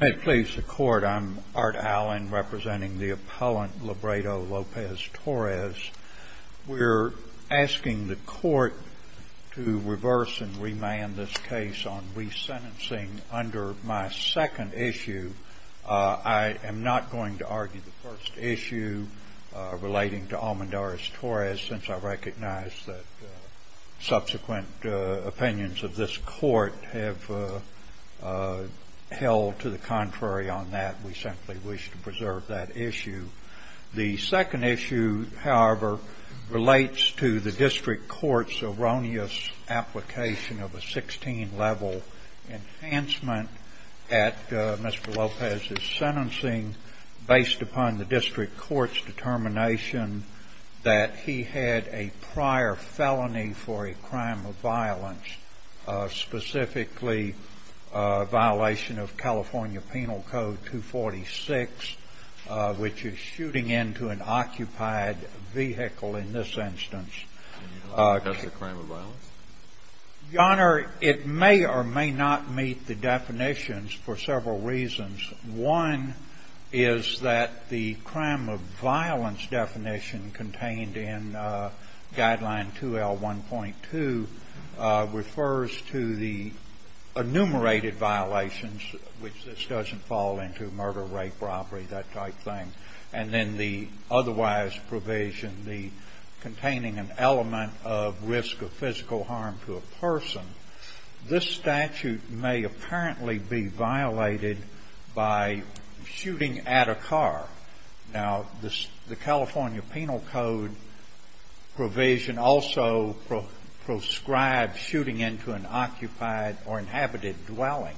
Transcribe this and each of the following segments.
May it please the Court, I'm Art Allen, representing the appellant Labrador Lopez-Torres. We're asking the Court to reverse and remand this case on resentencing under my second issue. I am not going to argue the first issue relating to Almendarez-Torres, since I recognize that we have held to the contrary on that. We simply wish to preserve that issue. The second issue, however, relates to the district court's erroneous application of a 16-level enhancement at Mr. Lopez's sentencing based upon the district court's determination that he had a prior felony for a crime of violence, specifically a violation of California Penal Code 246, which is shooting into an occupied vehicle in this instance. Can you help us discuss the crime of violence? Your Honor, it may or may not meet the definitions for several reasons. One is that the crime of violence definition contained in Guideline 2L1.2 refers to the enumerated violations, which this doesn't fall into, murder, rape, robbery, that type of thing. And then the otherwise provision, the containing an element of risk of physical harm to a person. This California Penal Code provision also proscribes shooting into an occupied or inhabited dwelling.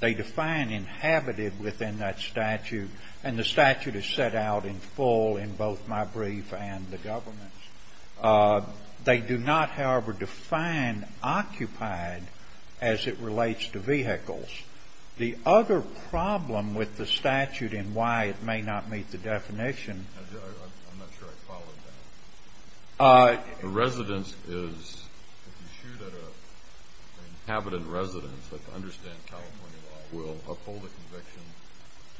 They define inhabited within that statute, and the statute is set out in full in both my brief and the government's. They do not, however, define occupied as it relates to I'm not sure I followed that. If you shoot at an inhabitant residence, I understand California law will uphold the conviction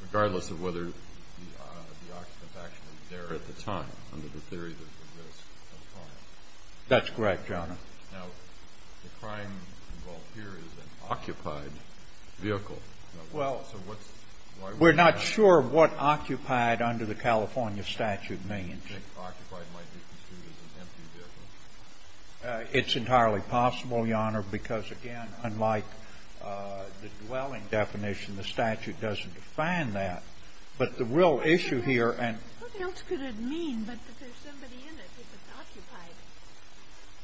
regardless of whether the occupant's actually there at the time under the theory that there's a risk of crime. That's correct, Your Honor. Now, the crime involved here is an occupied vehicle. We're not sure what occupied under the California statute means. Occupied might be construed as an empty vehicle. It's entirely possible, Your Honor, because again, unlike the dwelling definition, the statute doesn't define that. But the real issue here and What else could it mean that there's somebody in it if it's occupied?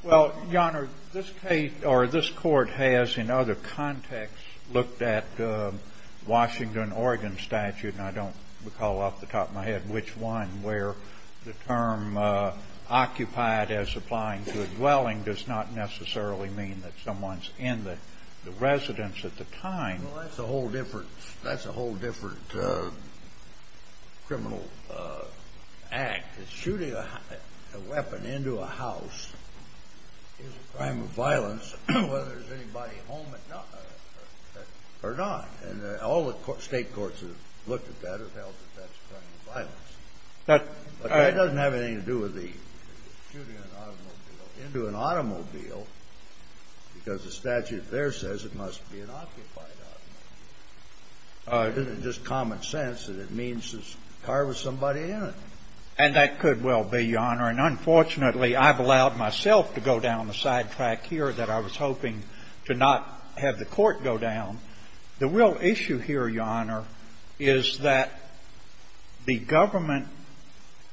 Well, Your Honor, this case or this court has in other contexts looked at Washington Oregon statute, and I don't recall off the top of my head which one, where the term occupied as applying to a dwelling does not necessarily mean that someone's in the residence at the time. Well, that's a whole different criminal act. Shooting a weapon into a house is a crime of violence whether there's anybody home or not. And all the state courts have looked at that or held that that's a crime of violence. But that doesn't have anything to do with the shooting an automobile into an automobile because the statute there says it must be an occupied automobile. Isn't it just common sense that it means there's a car with somebody in it? And that could well be, Your Honor. And unfortunately, I've allowed myself to go down the sidetrack here that I was hoping to not have the court go down. The real issue here, Your Honor, is that the government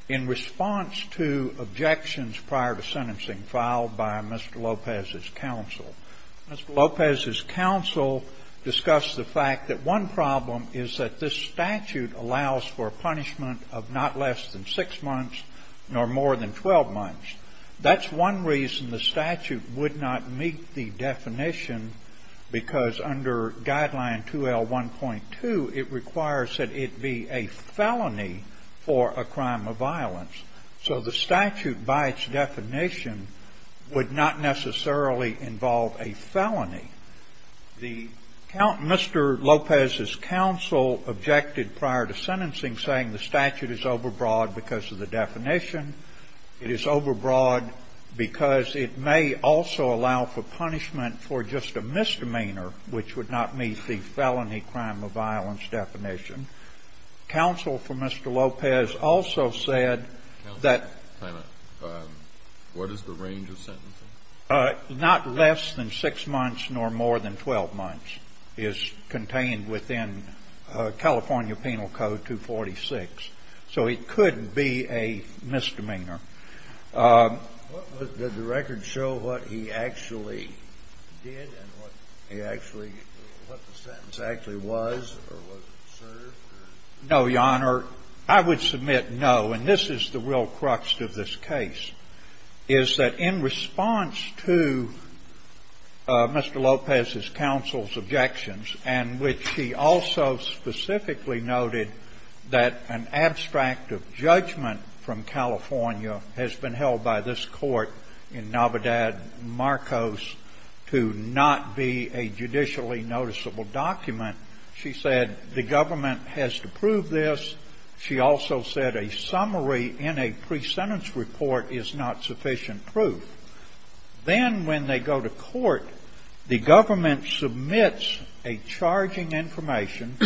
in response to objections prior to sentencing filed by Mr. Lopez's counsel. Mr. Lopez's counsel discussed the fact that one problem is that this statute allows for a punishment of not less than six months nor more than 12 months. That's one reason the statute would not meet the definition because under Guideline 2L1.2, it requires that it be a felony for a crime of violence. So the statute by its definition would not necessarily involve a felony. Mr. Lopez's counsel objected prior to sentencing saying the statute is overbroad because of the definition. It is overbroad because it may also allow for punishment for just a misdemeanor which would not meet the felony crime of violence definition. Counsel for Mr. Lopez also said that... What is the range of sentencing? Not less than six months nor more than 12 months is contained within California Penal Code 246. So it could be a misdemeanor. Did the record show what he actually did and what the sentence actually was or what it served? No, Your Honor. I would submit no. And this is the real crux of this case, is that in response to Mr. Lopez's counsel's objections and which he also specifically noted that an abstract of judgment from California has been held by this court in Navidad Marcos to not be a judicially noticeable document, she said the government has to prove this. She also said a summary in a pre-sentence report is not sufficient proof. Then when they go to court, the government submits a charging information.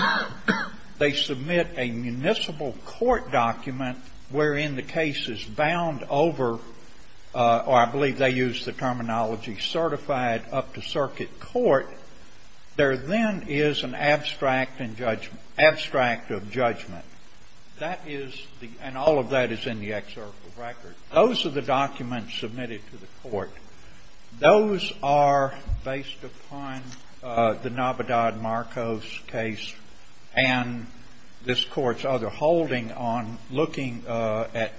They submit a municipal court document wherein the case is bound over, or I believe they use the terminology, certified up to circuit court. There then is an abstract of judgment. That is the — and all of that is in the excerpt of the record. Those are the documents submitted to the court. Those are, based upon the Navidad Marcos case and this Court's other holding on looking at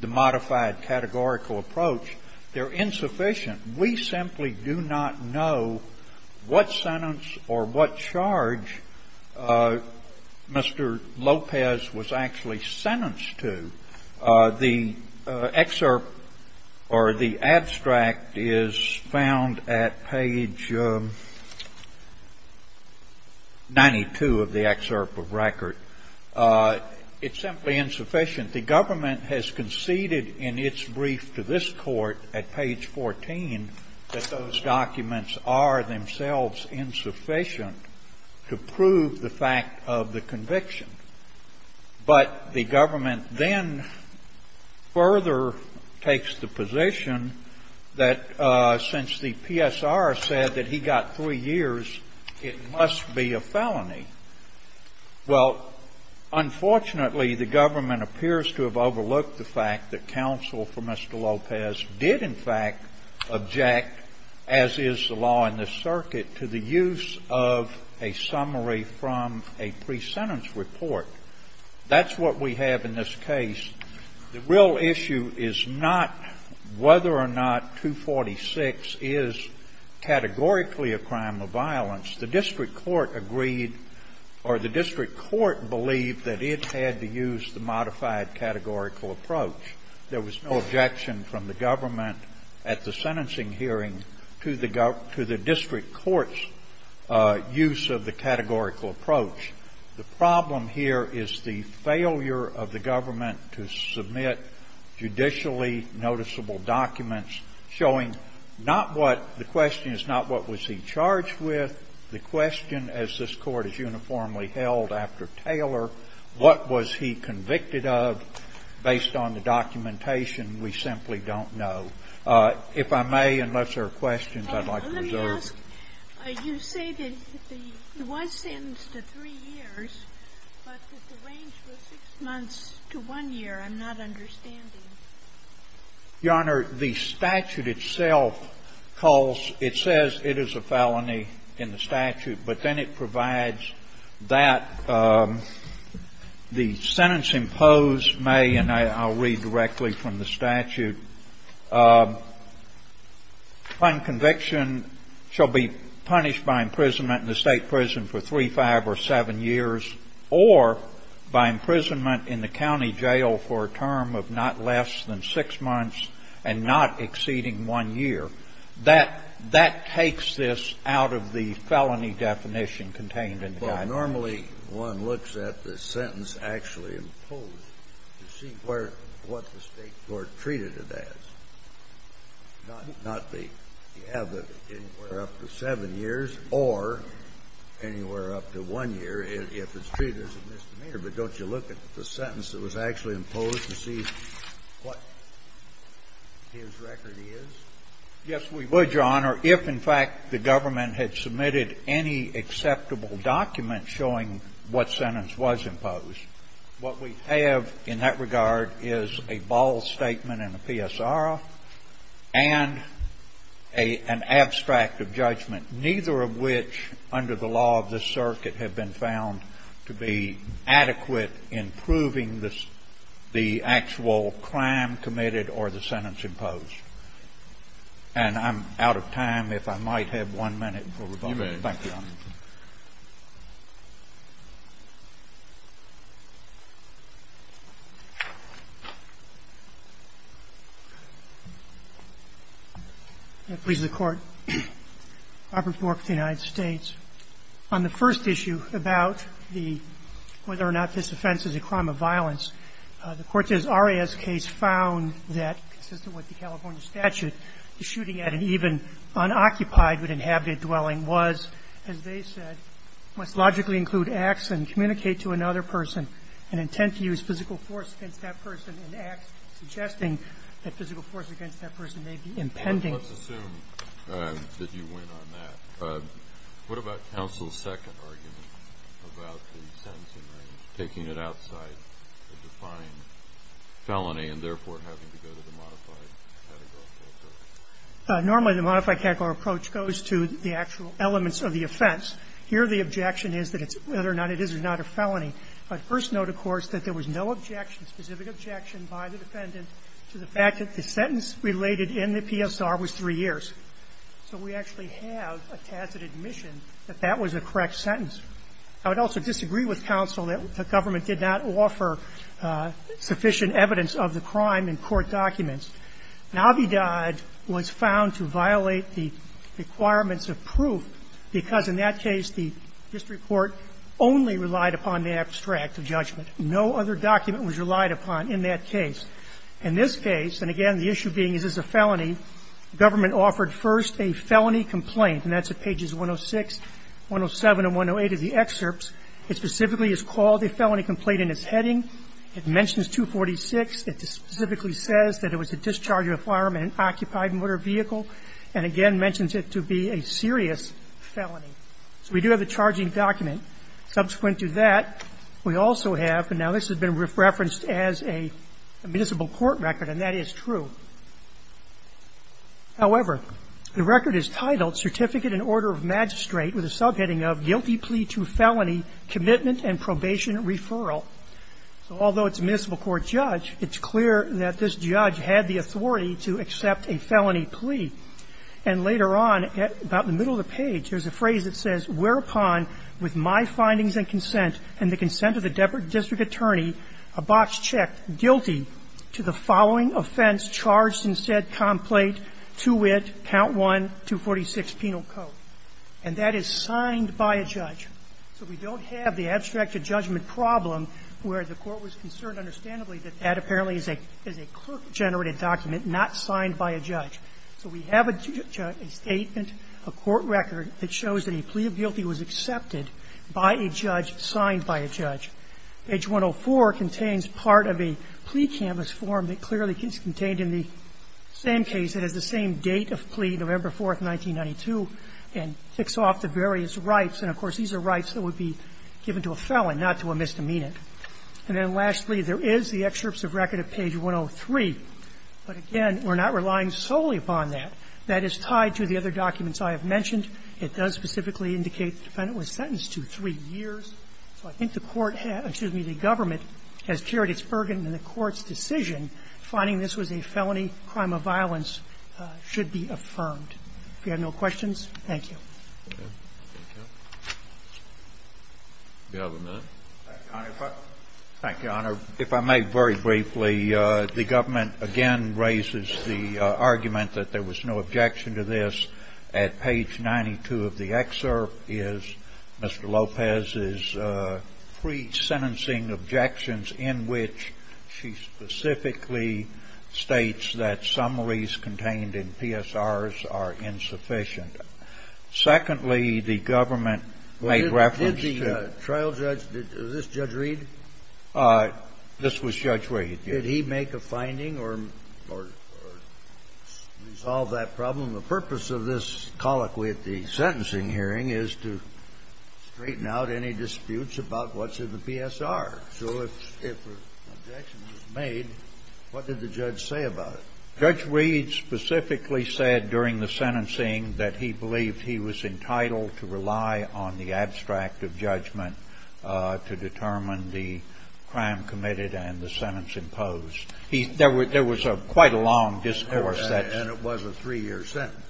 the modified categorical approach, they're insufficient. We simply do not know what sentence or what charge Mr. Lopez was actually sentenced to. The excerpt or the abstract is found at page 92 of the excerpt of record. It's simply insufficient. The government has conceded in its brief to this court at page 14 that those documents are themselves insufficient to prove the fact of the conviction. But the government then further takes the position that since the PSR said that he got three years, it must be a felony. Well, unfortunately, the government appears to have overlooked the fact that counsel for Mr. Lopez did in fact object, as is the law in this circuit, to the use of a summary from a pre-sentence report. That's what we have in this case. The real issue is not whether or not 246 is categorically a crime of violence. The district court agreed or the district court believed that it had to use the modified categorical approach. There was no objection from the government at the sentencing hearing to the district court's use of the categorical approach. The problem here is the failure of the government to submit judicially noticeable documents showing not what the question is, not what was he charged with. The question, as this Court has uniformly held after Taylor, what was he convicted of based on the documentation, we simply don't know. If I may, unless there are questions, I'd like to reserve. Let me ask. You say that he was sentenced to three years, but that the range was six months to one year. I'm not understanding. Your Honor, the statute itself calls – it says it is a felony in the statute, but then it provides that the sentence imposed may – and I'll read directly from the statute. Unconviction shall be punished by imprisonment in the State prison for three, five, or seven years, or by imprisonment in the county jail for a term of not less than six months and not exceeding one year. That takes this out of the felony definition contained in the statute. Normally one looks at the sentence actually imposed to see where – what the State court treated it as, not the – you have it anywhere up to seven years or anywhere up to one year if it's treated as a misdemeanor. But don't you look at the sentence that was actually imposed to see what his record Yes, we would, Your Honor. If, in fact, the government had submitted any acceptable document showing what sentence was imposed, what we have in that regard is a ball statement and a PSR and an abstract of judgment, neither of which under the law of this circuit have been found to be adequate in proving the actual crime committed or the sentence imposed. And I'm out of time. If I might have one minute for rebuttal. You may. Thank you, Your Honor. I please the Court. Robert Bork with the United States. On the first issue about the – whether or not this offense is a crime of violence, the Cortez-Arias case found that, consistent with the California statute, the shooting at an even unoccupied but inhabited dwelling was, as they said, must logically include acts and communicate to another person an intent to use physical force against that person and acts suggesting that physical force against that person may be impending. Let's assume that you went on that. What about counsel's second argument about the sentencing range, taking it outside the defined felony and therefore having to go to the modified categorical approach? Normally, the modified categorical approach goes to the actual elements of the offense. Here the objection is that it's – whether or not it is or is not a felony. But first note, of course, that there was no objection, specific objection, by the defendant to the fact that the sentence related in the PSR was three years. So we actually have a tacit admission that that was a correct sentence. I would also disagree with counsel that the government did not offer sufficient evidence of the crime in court documents. Navidad was found to violate the requirements of proof because, in that case, the district court only relied upon the abstract of judgment. No other document was relied upon in that case. In this case, and again, the issue being is this a felony, government offered first a felony complaint, and that's at pages 106, 107, and 108 of the excerpts. It specifically is called a felony complaint in its heading. It mentions 246. It specifically says that it was a discharge of a firearm in an occupied motor vehicle and, again, mentions it to be a serious felony. So we do have the charging document. Subsequent to that, we also have, and now this has been referenced as a municipal court record, and that is true. However, the record is titled Certificate and Order of Magistrate with a subheading of Guilty Plea to Felony Commitment and Probation Referral. So although it's a municipal court judge, it's clear that this judge had the authority to accept a felony plea. And later on, about the middle of the page, there's a phrase that says, And that is signed by a judge. So we don't have the abstracted judgment problem where the court was concerned understandably that that apparently is a clerk-generated document, not signed by a judge. So we have a judgment, a statement, a court record that shows that a plea guilty was accepted by a judge, signed by a judge. Page 104 contains part of a plea canvas form that clearly is contained in the same case. It has the same date of plea, November 4th, 1992, and ticks off the various rights. And, of course, these are rights that would be given to a felon, not to a misdemeanant. And then lastly, there is the excerpts of record at page 103. But, again, we're not relying solely upon that. That is tied to the other documents I have mentioned. It does specifically indicate the defendant was sentenced to three years. So I think the court has – excuse me, the government has carried its burden and the court's decision, finding this was a felony crime of violence, should be affirmed. If you have no questions, thank you. Thank you. Do you have a minute? Thank you, Your Honor. If I may very briefly, the government again raises the argument that there was no objection to this at page 92 of the excerpt is Mr. Lopez's pre-sentencing objections in which she specifically states that summaries contained in PSRs are insufficient. Secondly, the government made reference to the – Did the trial judge – was this Judge Reed? This was Judge Reed, yes. Did he make a finding or resolve that problem? The purpose of this colloquy at the sentencing hearing is to straighten out any disputes about what's in the PSR. So if an objection was made, what did the judge say about it? Judge Reed specifically said during the sentencing that he believed he was entitled to rely on the abstract of judgment to determine the crime committed and the sentence imposed. There was a quite a long discourse that's – And it was a three-year sentence.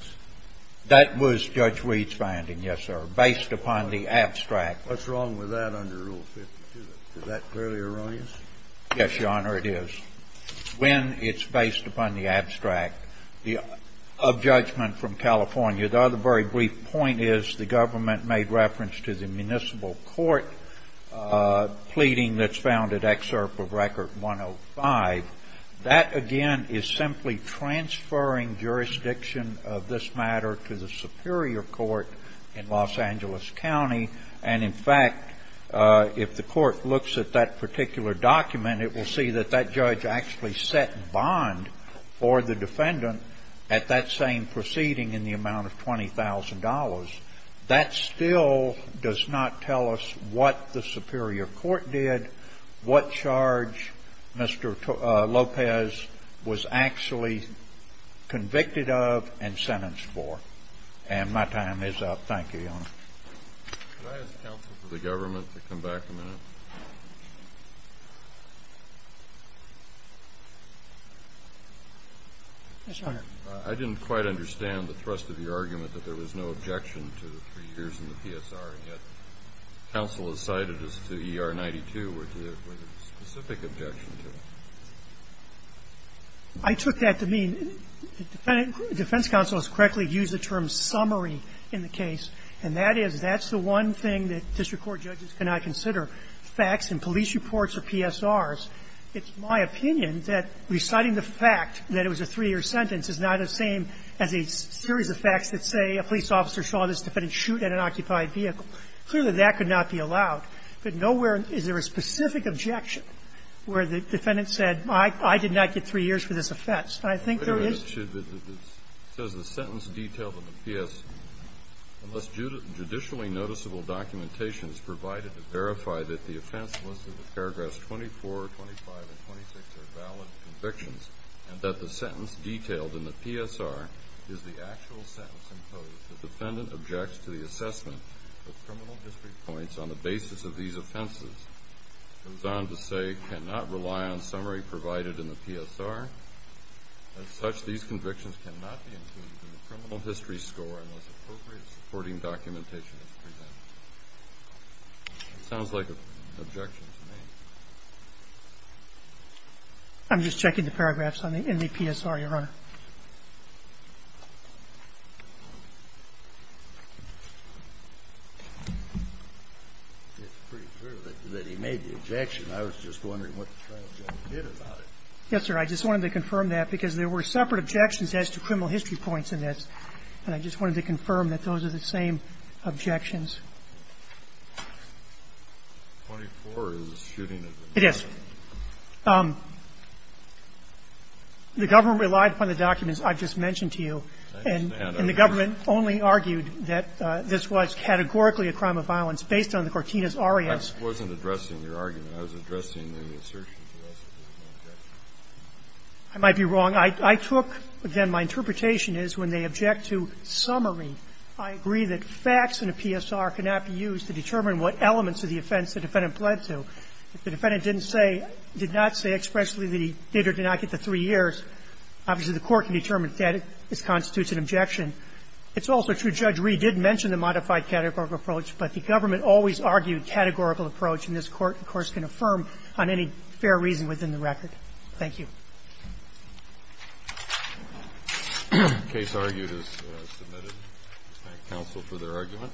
That was Judge Reed's finding, yes, sir, based upon the abstract. What's wrong with that under Rule 52? Is that clearly erroneous? Yes, Your Honor, it is. When it's based upon the abstract of judgment from California, the other very brief point is the government made reference to the municipal court pleading that's found at Excerpt of Record 105. That, again, is simply transferring jurisdiction of this matter to the superior court in Los Angeles County. And, in fact, if the court looks at that particular document, it will see that that still does not tell us what the superior court did, what charge Mr. Lopez was actually convicted of and sentenced for. And my time is up. Thank you, Your Honor. Could I ask counsel for the government to come back a minute? Yes, Your Honor. I didn't quite understand the thrust of your argument that there was no objection to the three years in the PSR, and yet counsel has cited as to ER-92 where there was a specific objection to it. I took that to mean – defense counsel has correctly used the term summary in the case, and that is that's the one thing that district court judges cannot consider, facts and police reports or PSRs. It's my opinion that reciting the fact that it was a three-year sentence is not the same as a series of facts that say a police officer saw this defendant shoot at an occupied vehicle. Clearly, that could not be allowed. But nowhere is there a specific objection where the defendant said, I did not get three years for this offense. I think there is – Wait a minute. It says the sentence detailed in the PS, unless judicially noticeable documentation is provided to verify that the offense listed in paragraphs 24, 25, and 26 are valid convictions, and that the sentence detailed in the PSR is the actual sentence imposed, the defendant objects to the assessment of criminal history points on the basis of these offenses. It goes on to say, cannot rely on summary provided in the PSR. As such, these convictions cannot be included in the criminal history score unless appropriate supporting documentation is presented. It sounds like an objection to me. I'm just checking the paragraphs in the PSR, Your Honor. It's pretty clear that he made the objection. I was just wondering what the trial judge did about it. Yes, sir. I just wanted to confirm that because there were separate objections as to criminal history points in this. And I just wanted to confirm that those are the same objections. 24 is the shooting of the man. It is. The government relied upon the documents I've just mentioned to you. I understand. And the government only argued that this was categorically a crime of violence based on the Cortinas R.E.S. I wasn't addressing your argument. I was addressing the assertions of the rest of the objections. I might be wrong. I took, again, my interpretation is when they object to summary, I agree that facts in a PSR cannot be used to determine what elements of the offense the defendant pled to. If the defendant didn't say, did not say expressly that he did or did not get the three years, obviously, the Court can determine if that constitutes an objection. It's also true Judge Reed did mention the modified categorical approach, but the government always argued categorical approach, and this Court, of course, can affirm on any fair reason within the record. Thank you. The case argued is submitted. Thank counsel for their argument.